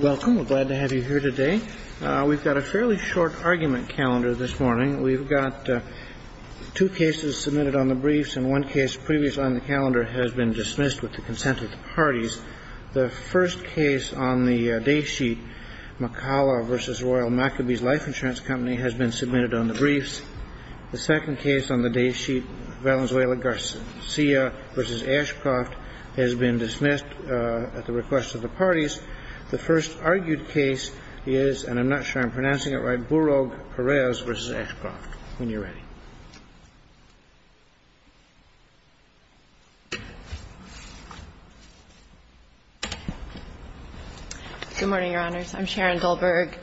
Welcome. We're glad to have you here today. We've got a fairly short argument calendar this morning. We've got two cases submitted on the briefs, and one case previously on the calendar has been dismissed with the consent of the parties. The first case on the day sheet, McCalla v. Royal Maccabees Life Insurance Company, has been submitted on the briefs. The second case on the day sheet, Valenzuela Garcia v. Ashcroft, has been dismissed at the request of the parties. The first argued case is, and I'm not sure I'm pronouncing it right, Borog-Perez v. Ashcroft. When you're ready. Good morning, Your Honors. I'm Sharon Dulberg,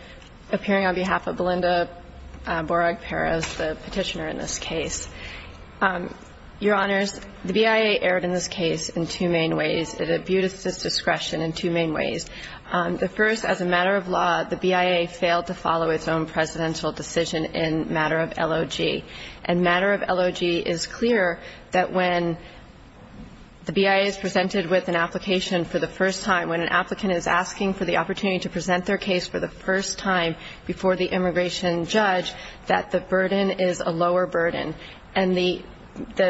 appearing on behalf of Belinda Borog-Perez, the petitioner in this case. Your Honors, the BIA erred in this case in two main ways. It imbued its discretion in two main ways. The first, as a matter of law, the BIA failed to follow its own presidential decision in matter of LOG. And matter of LOG is clear that when the BIA is presented with an application for the first time, when an applicant is asking for the opportunity to present their case for the first time before the immigration judge, that the burden is a lower burden. And the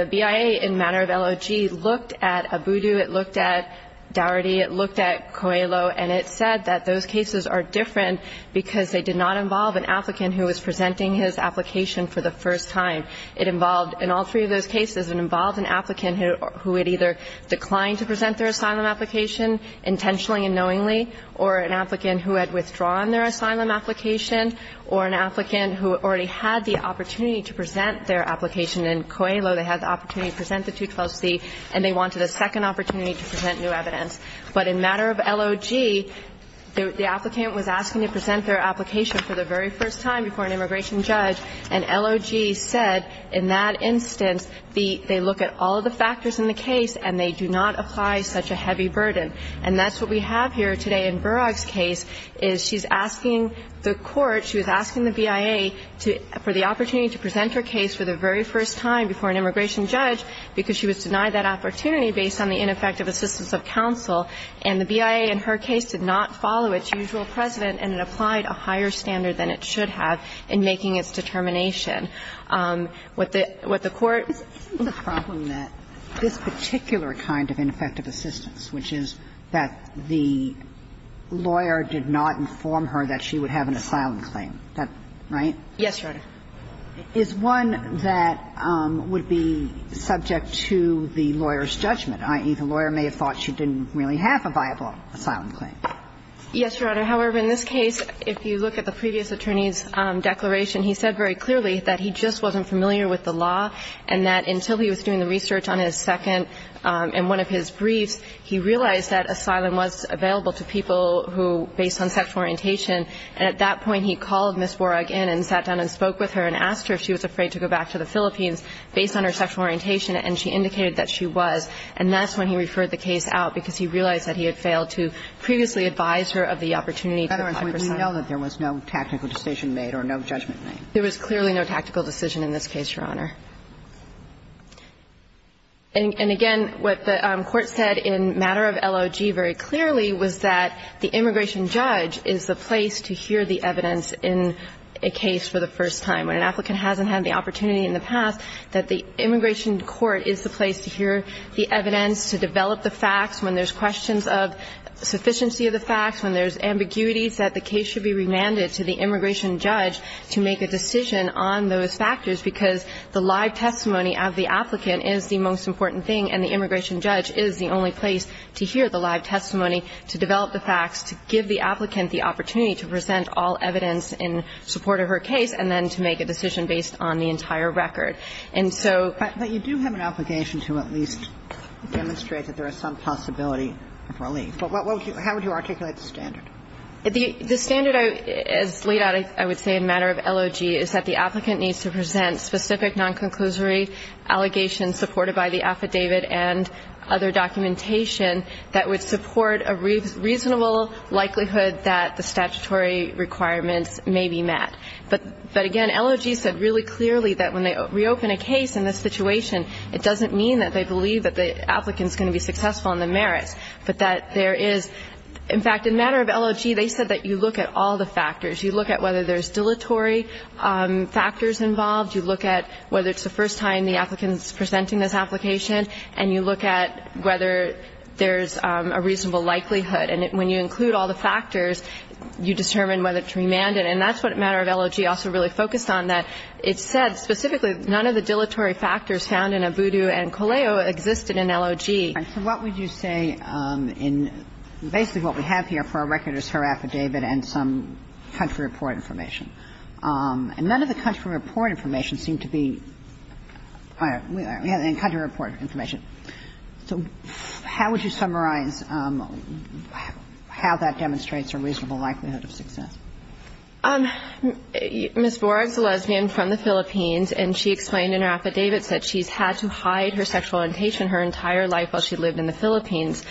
BIA in matter of LOG looked at Abudu, it looked at Daugherty, it looked at Coelho, and it said that those cases are different because they did not involve an applicant who was presenting his application for the first time. It involved, in all three of those cases, it involved an applicant who had either declined to present their asylum application intentionally and knowingly, or an applicant who had withdrawn their asylum application, or an applicant who already had the opportunity to present their application in Coelho. They had the opportunity to present the 212c, and they wanted a second opportunity to present new evidence. But in matter of LOG, the applicant was asking to present their application for the very first time before an immigration judge, and LOG said in that instance they look at all the factors in the case and they do not apply such a heavy burden. And that's what we have here today in Burak's case is she's asking the court, she was asking the BIA for the opportunity to present her case for the very first time before an immigration judge because she was denied that opportunity based on the ineffective assistance of counsel, and the BIA in her case did not follow its usual precedent, and it applied a higher standard than it should have in making its determination. What the court ---- Kagan. Isn't the problem that this particular kind of ineffective assistance, which is that the lawyer did not inform her that she would have an asylum claim, right? Yes, Your Honor. Is one that would be subject to the lawyer's judgment, i.e., the lawyer may have thought she didn't really have a viable asylum claim? Yes, Your Honor. However, in this case, if you look at the previous attorney's declaration, he said very clearly that he just wasn't familiar with the law and that until he was doing the research on his second and one of his briefs, he realized that asylum was available to people who ---- based on sexual orientation, and at that point he called Ms. Warragh in and sat down and spoke with her and asked her if she was afraid to go back to the Philippines based on her sexual orientation, and she indicated that she was, and that's when he referred the case out because he realized that he had failed to previously advise her of the opportunity to apply for asylum. In other words, we know that there was no tactical decision made or no judgment made. There was clearly no tactical decision in this case, Your Honor. And again, what the court said in matter of LOG very clearly was that the immigration judge is the place to hear the evidence in a case for the first time. When an applicant hasn't had the opportunity in the past, that the immigration court is the place to hear the evidence, to develop the facts. When there's questions of sufficiency of the facts, when there's ambiguities, that the case should be remanded to the immigration judge to make a decision on those factors, because the live testimony of the applicant is the most important thing, and the immigration judge is the only place to hear the live testimony to develop the facts, to give the applicant the opportunity to present all evidence in support of her case, and then to make a decision based on the entire record. And so you do have an obligation to at least demonstrate that there is some possibility of relief, but how would you articulate the standard? The standard as laid out, I would say, in matter of LOG is that the applicant needs to present specific non-conclusory allegations supported by the affidavit and other documentation that would support a reasonable likelihood that the statutory requirements may be met. But, again, LOG said really clearly that when they reopen a case in this situation, it doesn't mean that they believe that the applicant is going to be successful in the merits, but that there is. In fact, in matter of LOG, they said that you look at all the factors. You look at whether there's dilatory factors involved. You look at whether it's the first time the applicant is presenting this application. And you look at whether there's a reasonable likelihood. And when you include all the factors, you determine whether to remand it. And that's what matter of LOG also really focused on, that it said specifically none of the dilatory factors found in Abudu and Coleo existed in LOG. And so what would you say in basically what we have here for our record is her affidavit and some country report information. And none of the country report information seemed to be the country report information. So how would you summarize how that demonstrates a reasonable likelihood of success? Ms. Boragg is a lesbian from the Philippines, and she explained in her affidavit that she's had to hide her sexual orientation her entire life while she lived in the Philippines.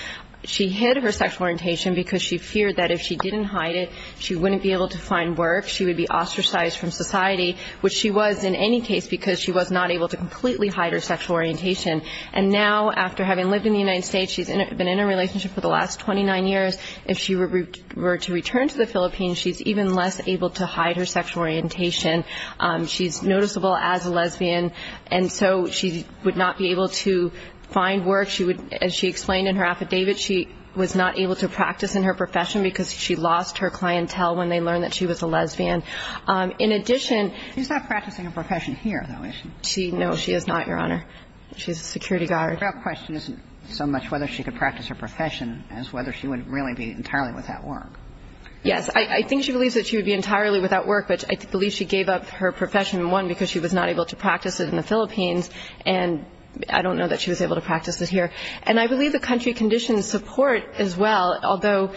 She hid her sexual orientation because she feared that if she didn't hide it, she wouldn't be able to find work. She would be ostracized from society, which she was in any case because she was not able to completely hide her sexual orientation. And now after having lived in the United States, she's been in a relationship for the last 29 years. If she were to return to the Philippines, she's even less able to hide her sexual orientation. She's noticeable as a lesbian. And so she would not be able to find work. She would, as she explained in her affidavit, she was not able to practice in her She's not practicing her profession here, though, is she? No, she is not, Your Honor. She's a security guard. The real question isn't so much whether she could practice her profession as whether she would really be entirely without work. Yes. I think she believes that she would be entirely without work, but I believe she gave up her profession, one, because she was not able to practice it in the Philippines and I don't know that she was able to practice it here. And I believe the country conditions support as well, although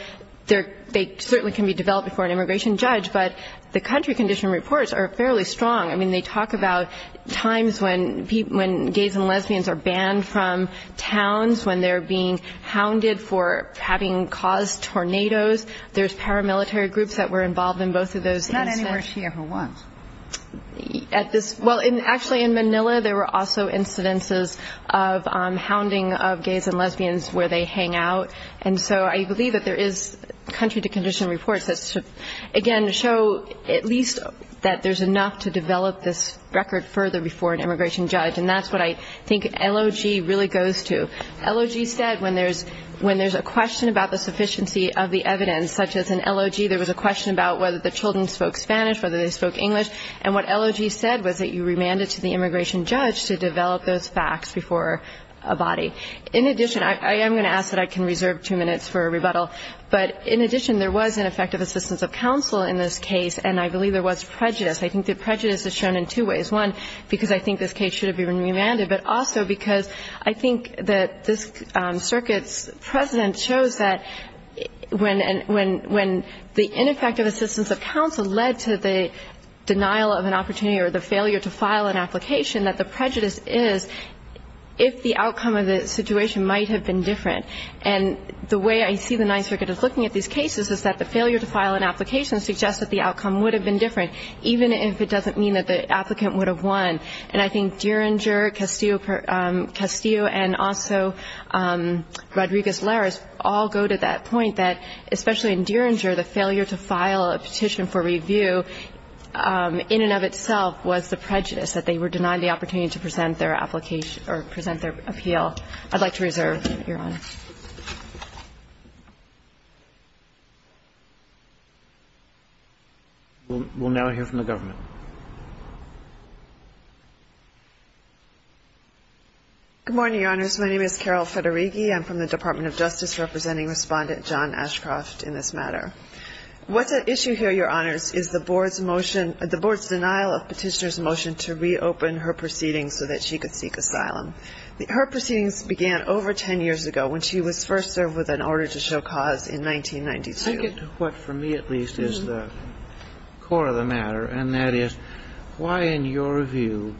they certainly can be developed before an immigration judge, but the country condition reports are fairly strong. I mean, they talk about times when people, when gays and lesbians are banned from towns, when they're being hounded for having caused tornadoes. There's paramilitary groups that were involved in both of those incidents. Not anywhere she ever was. At this, well, actually in Manila, there were also incidences of hounding of gays and lesbians where they hang out. And so I believe that there is country condition reports that, again, show at least that there's enough to develop this record further before an immigration judge, and that's what I think LOG really goes to. LOG said when there's a question about the sufficiency of the evidence, such as an LOG, there was a question about whether the children spoke Spanish, whether they spoke English, and what LOG said was that you remand it to the immigration judge to develop those facts before a body. In addition, I am going to ask that I can reserve two minutes for a rebuttal, but in addition, there was ineffective assistance of counsel in this case, and I believe there was prejudice. I think the prejudice is shown in two ways. One, because I think this case should have been remanded, but also because I think that this circuit's precedent shows that when the ineffective assistance of counsel led to the denial of an opportunity or the failure to file an application, that the prejudice is if the outcome of the situation might have been different. And the way I see the Ninth Circuit is looking at these cases is that the failure to file an application suggests that the outcome would have been different, even if it doesn't mean that the applicant would have won. And I think Dieringer, Castillo, and also Rodriguez-Larez all go to that point that, especially in Dieringer, the failure to file a petition for review in and of itself was the prejudice, that they were denied the opportunity to present their application or present their appeal. I'd like to reserve, Your Honor. We'll now hear from the government. Good morning, Your Honors. My name is Carol Federighi. I'm from the Department of Justice, representing Respondent John Ashcroft in this matter. What's at issue here, Your Honors, is the Board's motion – the Board's denial of Petitioner's motion to reopen her proceedings so that she could seek asylum. Her proceedings began over 10 years ago, when she was first served with an order to show cause in 1992. I get to what, for me at least, is the core of the matter, and that is, why, in your view,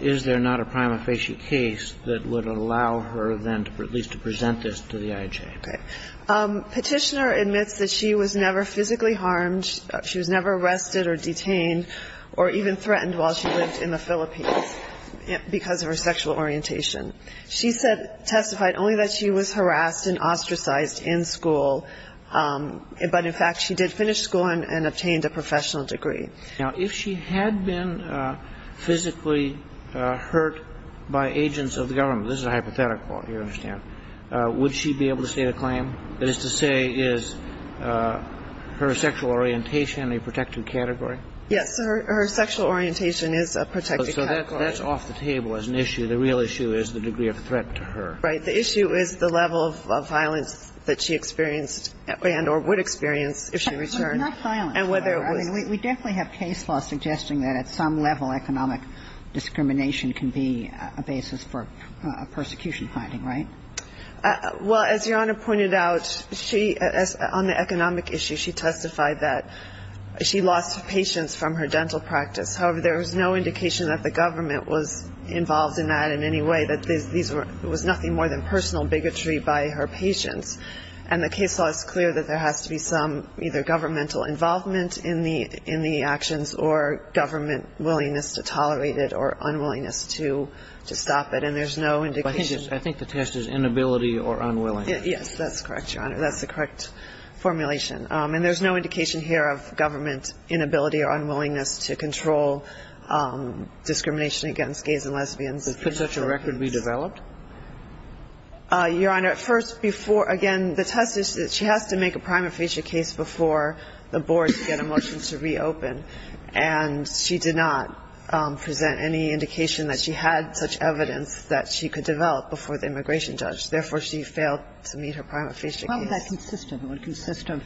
is there not a prima facie case that would allow her, then, at least to present this to the IJ? Okay. Petitioner admits that she was never physically harmed. She was never arrested or detained or even threatened while she lived in the Philippines because of her sexual orientation. She testified only that she was harassed and ostracized in school, but, in fact, she did finish school and obtained a professional degree. Now, if she had been physically hurt by agents of the government – this is a hypothetical, you understand – would she be able to state a claim? That is to say, is her sexual orientation a protected category? Yes. Her sexual orientation is a protected category. So that's off the table as an issue. The real issue is the degree of threat to her. Right. The issue is the level of violence that she experienced and or would experience if she returned. But it's not violence. And whether it was – We definitely have case law suggesting that at some level economic discrimination can be a basis for a persecution finding, right? Well, as Your Honor pointed out, she – on the economic issue, she testified that she lost patients from her dental practice. However, there was no indication that the government was involved in that in any way, that these were – it was nothing more than personal bigotry by her patients. And the case law is clear that there has to be some either governmental involvement in the actions or government willingness to tolerate it or unwillingness to stop it. And there's no indication – I think the test is inability or unwilling. Yes. That's correct, Your Honor. That's the correct formulation. And there's no indication here of government inability or unwillingness to control discrimination against gays and lesbians. Could such a record be developed? Your Honor, first, before – again, the test is that she has to make a prima facie case before the board to get a motion to reopen. And she did not present any indication that she had such evidence that she could develop before the immigration judge. Therefore, she failed to meet her prima facie case. How would that consist of? It would consist of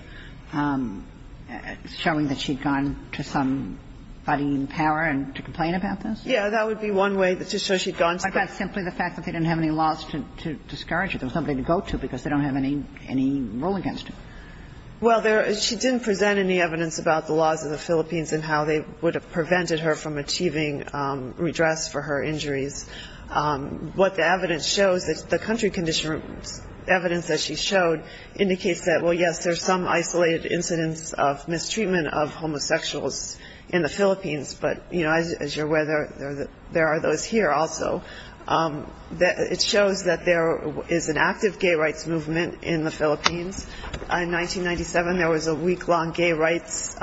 showing that she'd gone to some body in power and to complain about this? Yeah. That would be one way to show she'd gone to the – But that's simply the fact that they didn't have any laws to discourage her. There was nobody to go to because they don't have any rule against her. Well, there – she didn't present any evidence about the laws of the Philippines and how they would have prevented her from achieving redress for her injuries. What the evidence shows, the country conditions evidence that she showed indicates that, well, yes, there's some isolated incidents of mistreatment of homosexuals in the Philippines. But, you know, as you're aware, there are those here also. It shows that there is an active gay rights movement in the Philippines. In 1997, there was a week-long gay rights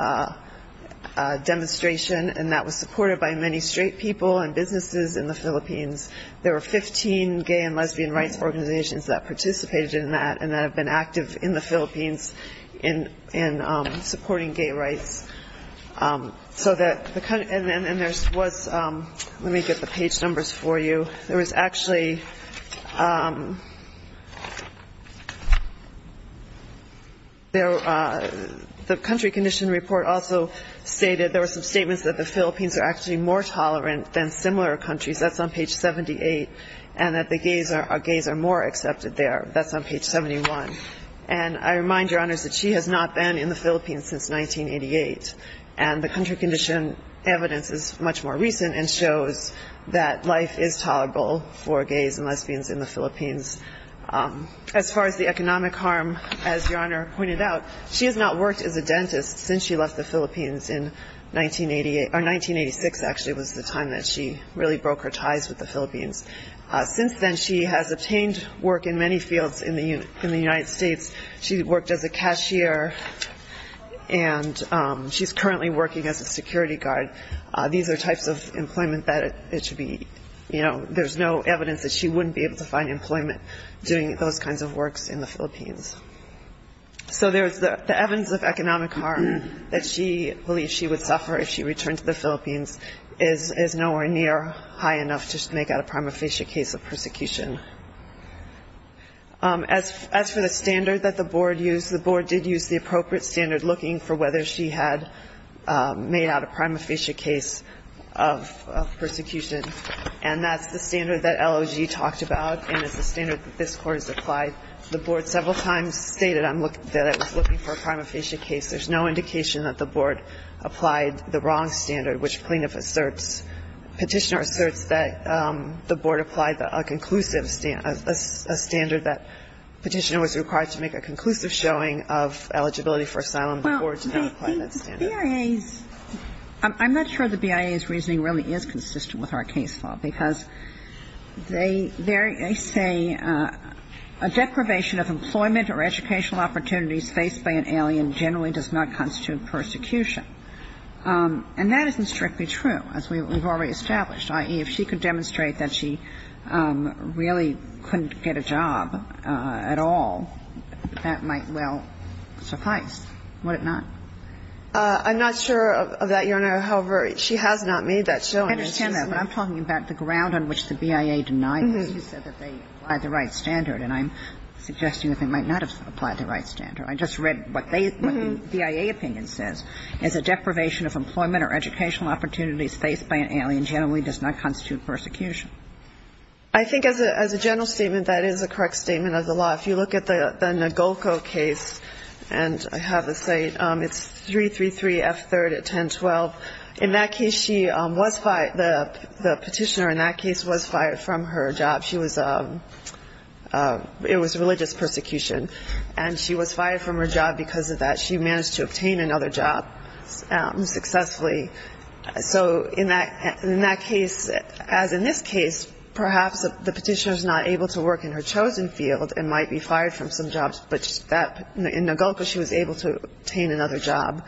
demonstration, and that was supported by many straight people and businesses in the Philippines. There were 15 gay and lesbian rights organizations that participated in that and that have been active in the Philippines in supporting gay rights. So that – and there was – let me get the page numbers for you. There was actually – the country condition report also stated there were some statements that the Philippines are actually more tolerant than similar countries. That's on page 78. And that the gays are more accepted there. That's on page 71. And I remind Your Honors that she has not been in the Philippines since 1988. And the country condition evidence is much more recent and shows that life is tolerable for gays and lesbians in the Philippines. As far as the economic harm, as Your Honor pointed out, she has not worked as a dentist since she left the Philippines in 1988 – or 1986, actually, was the time that she really broke her ties with the Philippines. Since then, she has obtained work in many fields in the United States. She worked as a cashier and she's currently working as a security guard. These are types of employment that it should be – there's no evidence that she wouldn't be able to find employment doing those kinds of works in the Philippines. So there's the evidence of economic harm that she believes she would suffer if she returned to the Philippines is nowhere near high enough to make out a prima facie case of persecution. As for the standard that the Board used, the Board did use the appropriate standard looking for whether she had made out a prima facie case of persecution. And that's the standard that LOG talked about and it's the standard that this Court has applied. The Board several times stated that it was looking for a prima facie case. There's no indication that the Board applied the wrong standard, which plaintiff asserts – Petitioner asserts that the Board applied a conclusive – a standard that Petitioner was required to make a conclusive showing of eligibility for asylum. The Board did not apply that standard. Well, the BIA's – I'm not sure the BIA's reasoning really is consistent with our case law because they say a deprivation of employment or educational opportunities faced by an alien generally does not constitute persecution. And that isn't strictly true as we've already established, i.e., if she could demonstrate that she really couldn't get a job at all, that might well suffice, would it not? I'm not sure of that, Your Honor. However, she has not made that showing. I understand that, but I'm talking about the ground on which the BIA denied that she said that they applied the right standard. And I'm suggesting that they might not have applied the right standard. I just read what they – what the BIA opinion says. It's a deprivation of employment or educational opportunities faced by an alien generally does not constitute persecution. I think as a general statement, that is a correct statement of the law. If you look at the Nogolco case, and I have a say, it's 333 F. 3rd at 1012. In that case, she was – the Petitioner in that case was fired from her job. She was – it was religious persecution. And she was fired from her job because of that. She managed to obtain another job successfully. So in that case, as in this case, perhaps the Petitioner is not able to work in her chosen field and might be fired from some jobs, but that – in Nogolco, she was able to obtain another job.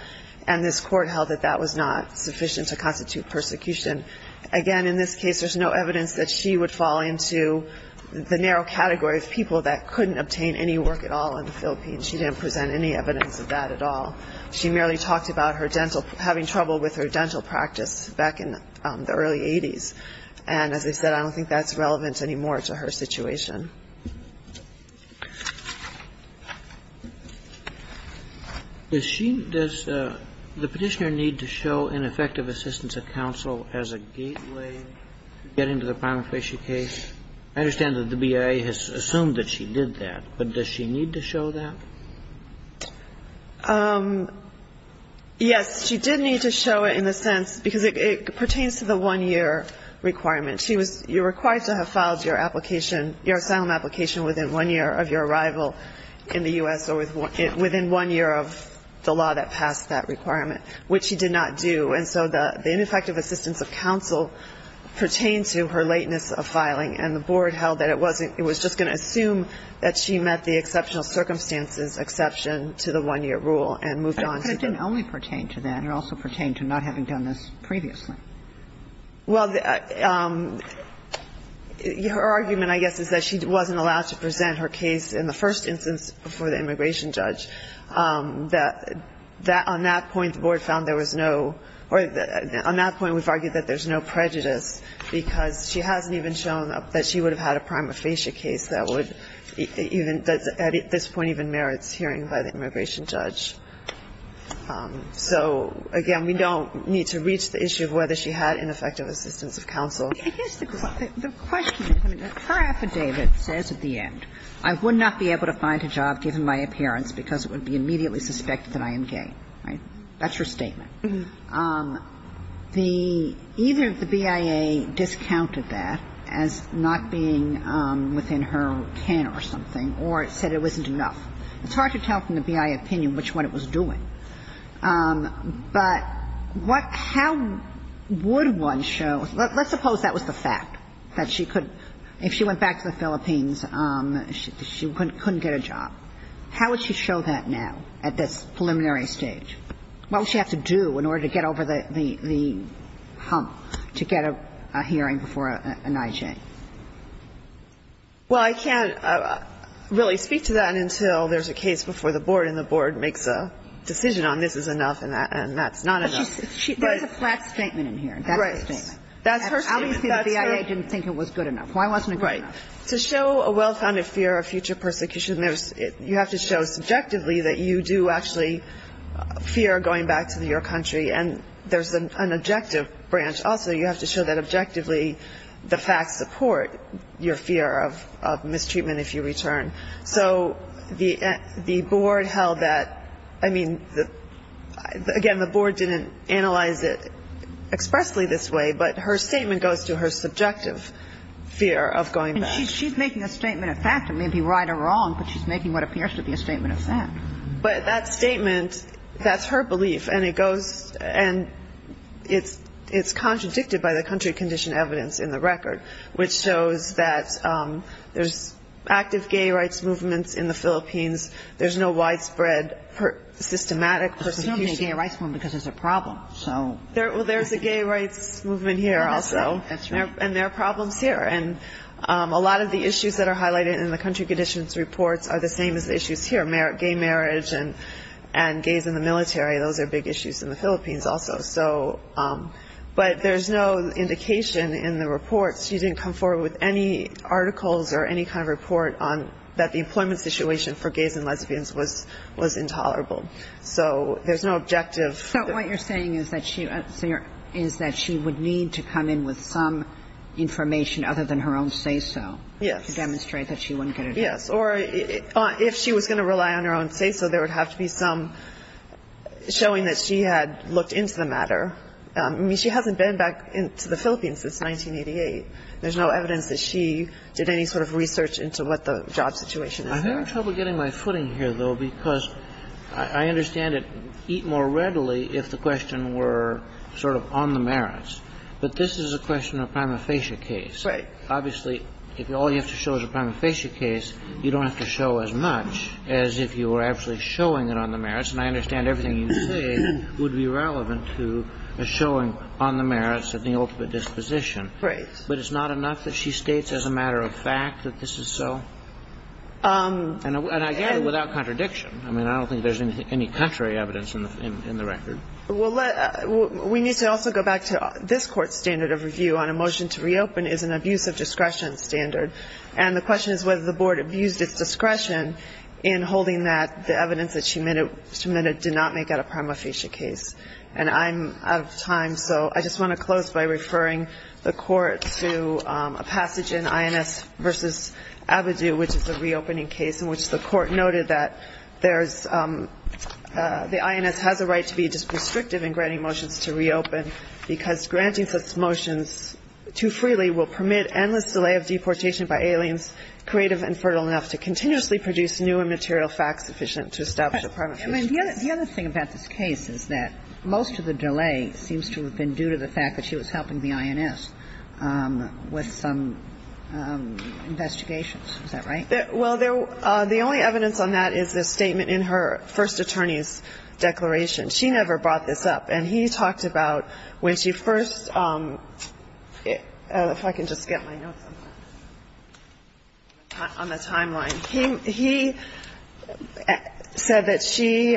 And this Court held that that was not sufficient to constitute persecution. Again, in this case, there's no evidence that she would fall into the narrow category of people that couldn't obtain any work at all in the Philippines. She didn't present any evidence of that at all. She merely talked about her dental – having trouble with her dental practice back in the early 80s. And as I said, I don't think that's relevant anymore to her situation. Kagan. Does she – does the Petitioner need to show ineffective assistance of counsel as a gateway to get into the Bonifacio case? I understand that the BIA has assumed that she did that. But does she need to show that? Yes. She did need to show it in the sense – because it pertains to the one-year requirement. She was – you're required to have filed your application, your asylum application within one year of your arrival in the U.S. or within one year of the law that passed that requirement, which she did not do. And so the ineffective assistance of counsel pertained to her lateness of filing. And the Board held that it wasn't – it was just going to assume that she met the exceptional circumstances exception to the one-year rule and moved on. But it didn't only pertain to that. It also pertained to not having done this previously. Well, the – her argument, I guess, is that she wasn't allowed to present her case in the first instance before the immigration judge. That – on that point, the Board found there was no – or on that point, we've argued that there's no prejudice, because she hasn't even shown that she would have had a prima facie case that would even – that at this point even merits hearing by the immigration judge. So, again, we don't need to reach the issue of whether she had ineffective assistance of counsel. I guess the question is, I mean, her affidavit says at the end, I would not be able to find a job given my appearance because it would be immediately suspected that I am gay. Right? That's her statement. The – either the BIA discounted that as not being within her can or something or said it wasn't enough. It's hard to tell from the BIA opinion which one it was doing. But what – how would one show – let's suppose that was the fact, that she could – if she went back to the Philippines, she couldn't get a job. How would she show that now at this preliminary stage? What would she have to do in order to get over the hump to get a hearing before an IJ? Well, I can't really speak to that until there's a case before the Board and the Board makes a decision on this is enough and that's not enough. But she – there's a flat statement in here. That's her statement. That's her statement. How do you say the BIA didn't think it was good enough? Why wasn't it good enough? Right. To show a well-founded fear of future persecution, you have to show subjectively that you do actually fear going back to your country. And there's an objective branch also. You have to show that objectively the facts support your fear of mistreatment if you return. So the Board held that – I mean, again, the Board didn't analyze it expressly this way, but her statement goes to her subjective fear of going back. And she's making a statement of fact. It may be right or wrong, but she's making what appears to be a statement of fact. But that statement, that's her belief. And it goes – and it's contradicted by the country condition evidence in the record, which shows that there's active gay rights movements in the Philippines. There's no widespread systematic persecution. There's no gay rights movement because there's a problem. Well, there's a gay rights movement here also. That's right. And there are problems here. And a lot of the issues that are highlighted in the country conditions reports are the same as the issues here, gay marriage and gays in the military. Those are big issues in the Philippines also. But there's no indication in the reports. She didn't come forward with any articles or any kind of report that the employment situation for gays and lesbians was intolerable. So there's no objective. So what you're saying is that she would need to come in with some information other than her own say-so to demonstrate that she wouldn't get a job. Yes. Or if she was going to rely on her own say-so, there would have to be some showing that she had looked into the matter. I mean, she hasn't been back to the Philippines since 1988. There's no evidence that she did any sort of research into what the job situation was there. I'm having trouble getting my footing here, though, because I understand it more readily if the question were sort of on the merits. But this is a question of a prima facie case. Right. Obviously, if all you have to show is a prima facie case, you don't have to show as much as if you were actually showing it on the merits. And I understand everything you say would be relevant to a showing on the merits of the ultimate disposition. Right. But it's not enough that she states as a matter of fact that this is so? And again, without contradiction. I mean, I don't think there's any contrary evidence in the record. Well, we need to also go back to this Court's standard of review on a motion to reopen is an abuse of discretion standard. And the question is whether the Board abused its discretion in holding that the evidence that she submitted did not make it a prima facie case. And I'm out of time, so I just want to close by referring the Court to a passage in INS v. Avidu, which is a reopening case in which the Court noted that there's the INS has a right to be just restrictive in granting motions to reopen because granting such motions too freely will permit endless delay of deportation by aliens creative and fertile enough to continuously produce new and material facts sufficient to establish a prima facie case. I mean, the other thing about this case is that most of the delay seems to have been due to the fact that she was helping the INS with some investigations. Is that right? Well, the only evidence on that is the statement in her first attorney's declaration. She never brought this up. And he talked about when she first – if I can just get my notes on the timeline. He said that she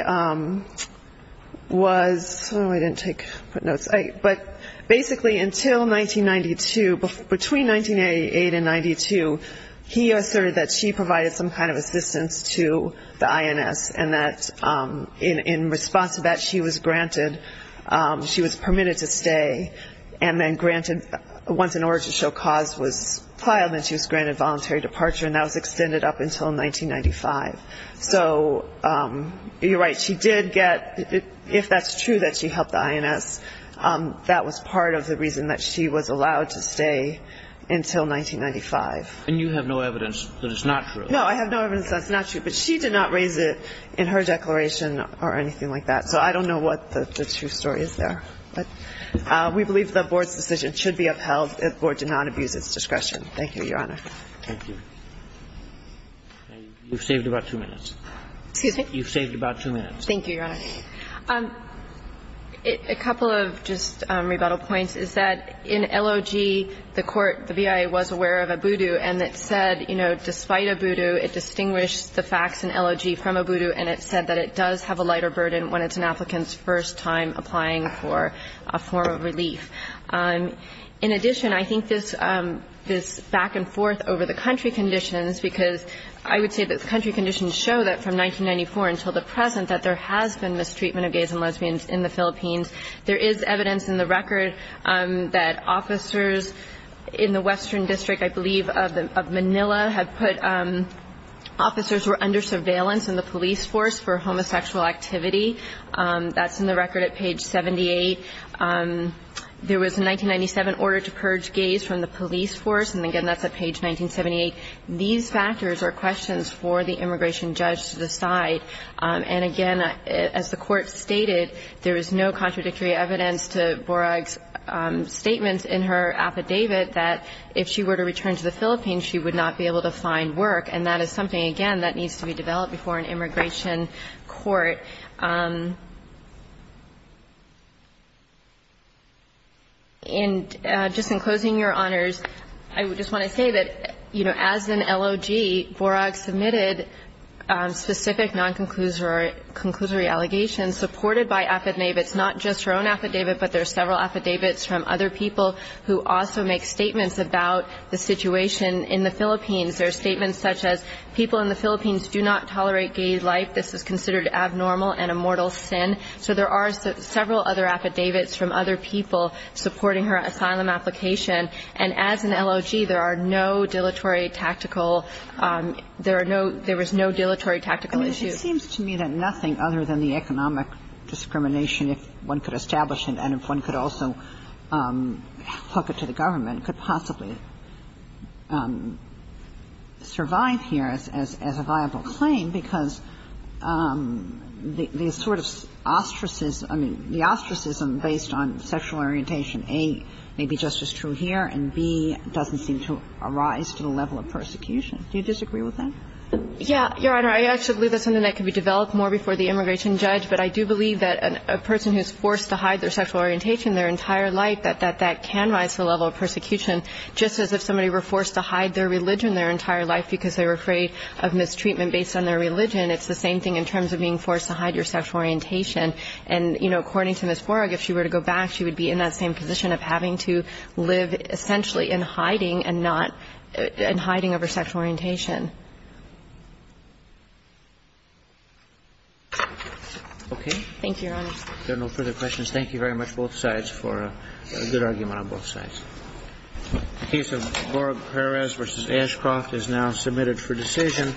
was – oh, I didn't take – put notes. But basically until 1992, between 1998 and 1992, he asserted that she provided some kind of assistance to the INS and that in response to that, she was granted – she was permitted to stay and then granted – once an origin show cause was filed, then she was granted voluntary departure. And that was extended up until 1995. So you're right, she did get – if that's true that she helped the INS, that was part of the reason that she was allowed to stay until 1995. And you have no evidence that it's not true? No, I have no evidence that it's not true. But she did not raise it in her declaration or anything like that. So I don't know what the true story is there. But we believe the Board's decision should be upheld. The Board did not abuse its discretion. Thank you, Your Honor. Thank you. You've saved about two minutes. Excuse me? You've saved about two minutes. Thank you, Your Honor. A couple of just rebuttal points is that in LOG, the court, the BIA was aware of ABUDU and it said, you know, despite ABUDU, it distinguished the facts in LOG from ABUDU and it said that it does have a lighter burden when it's an applicant's first time applying for a form of relief. In addition, I think this back-and-forth over the country conditions, because I would say that the country conditions show that from 1994 until the present that there has been mistreatment of gays and lesbians in the Philippines. There is evidence in the record that officers in the Western District, I believe, of Manila have put officers who are under surveillance in the police force for homosexual activity. That's in the record at page 78. There was a 1997 order to purge gays from the police force. And again, that's at page 1978. These factors are questions for the immigration judge to decide. And again, as the Court stated, there is no contradictory evidence to Borag's statements in her affidavit that if she were to return to the Philippines, she would not be able to find work. And that is something, again, that needs to be developed before an immigration court. And just in closing, Your Honors, I just want to say that, you know, as an LOG, Borag submitted specific non-conclusory allegations supported by affidavits, not just her own affidavit, but there are several affidavits from other people who also make statements about the situation in the Philippines. There are statements such as, people in the Philippines do not tolerate gay life. This is considered abnormal and a mortal sin. So there are several other affidavits from other people supporting her asylum application. And as an LOG, there are no dilatory tactical – there are no – there was no dilatory tactical issues. I mean, it seems to me that nothing other than the economic discrimination, if one could establish it and if one could also hook it to the government, could possibly survive here as a viable claim, because the sort of ostracism – I mean, the ostracism based on sexual orientation, A, may be just as true here, and B, doesn't seem to arise to the level of persecution. Do you disagree with that? Yeah. Your Honor, I actually believe that's something that could be developed more before the immigration judge. But I do believe that a person who's forced to hide their sexual orientation their entire life, that that can rise to the level of persecution. Just as if somebody were forced to hide their religion their entire life because they were afraid of mistreatment based on their religion, it's the same thing in terms of being forced to hide your sexual orientation. And, you know, according to Ms. Borog, if she were to go back, she would be in that same position of having to live essentially in hiding and not – in hiding of her sexual orientation. Okay. Thank you, Your Honor. There are no further questions. Thank you very much, both sides, for a good argument on both sides. The case of Borog-Perez v. Ashcroft is now submitted for decision.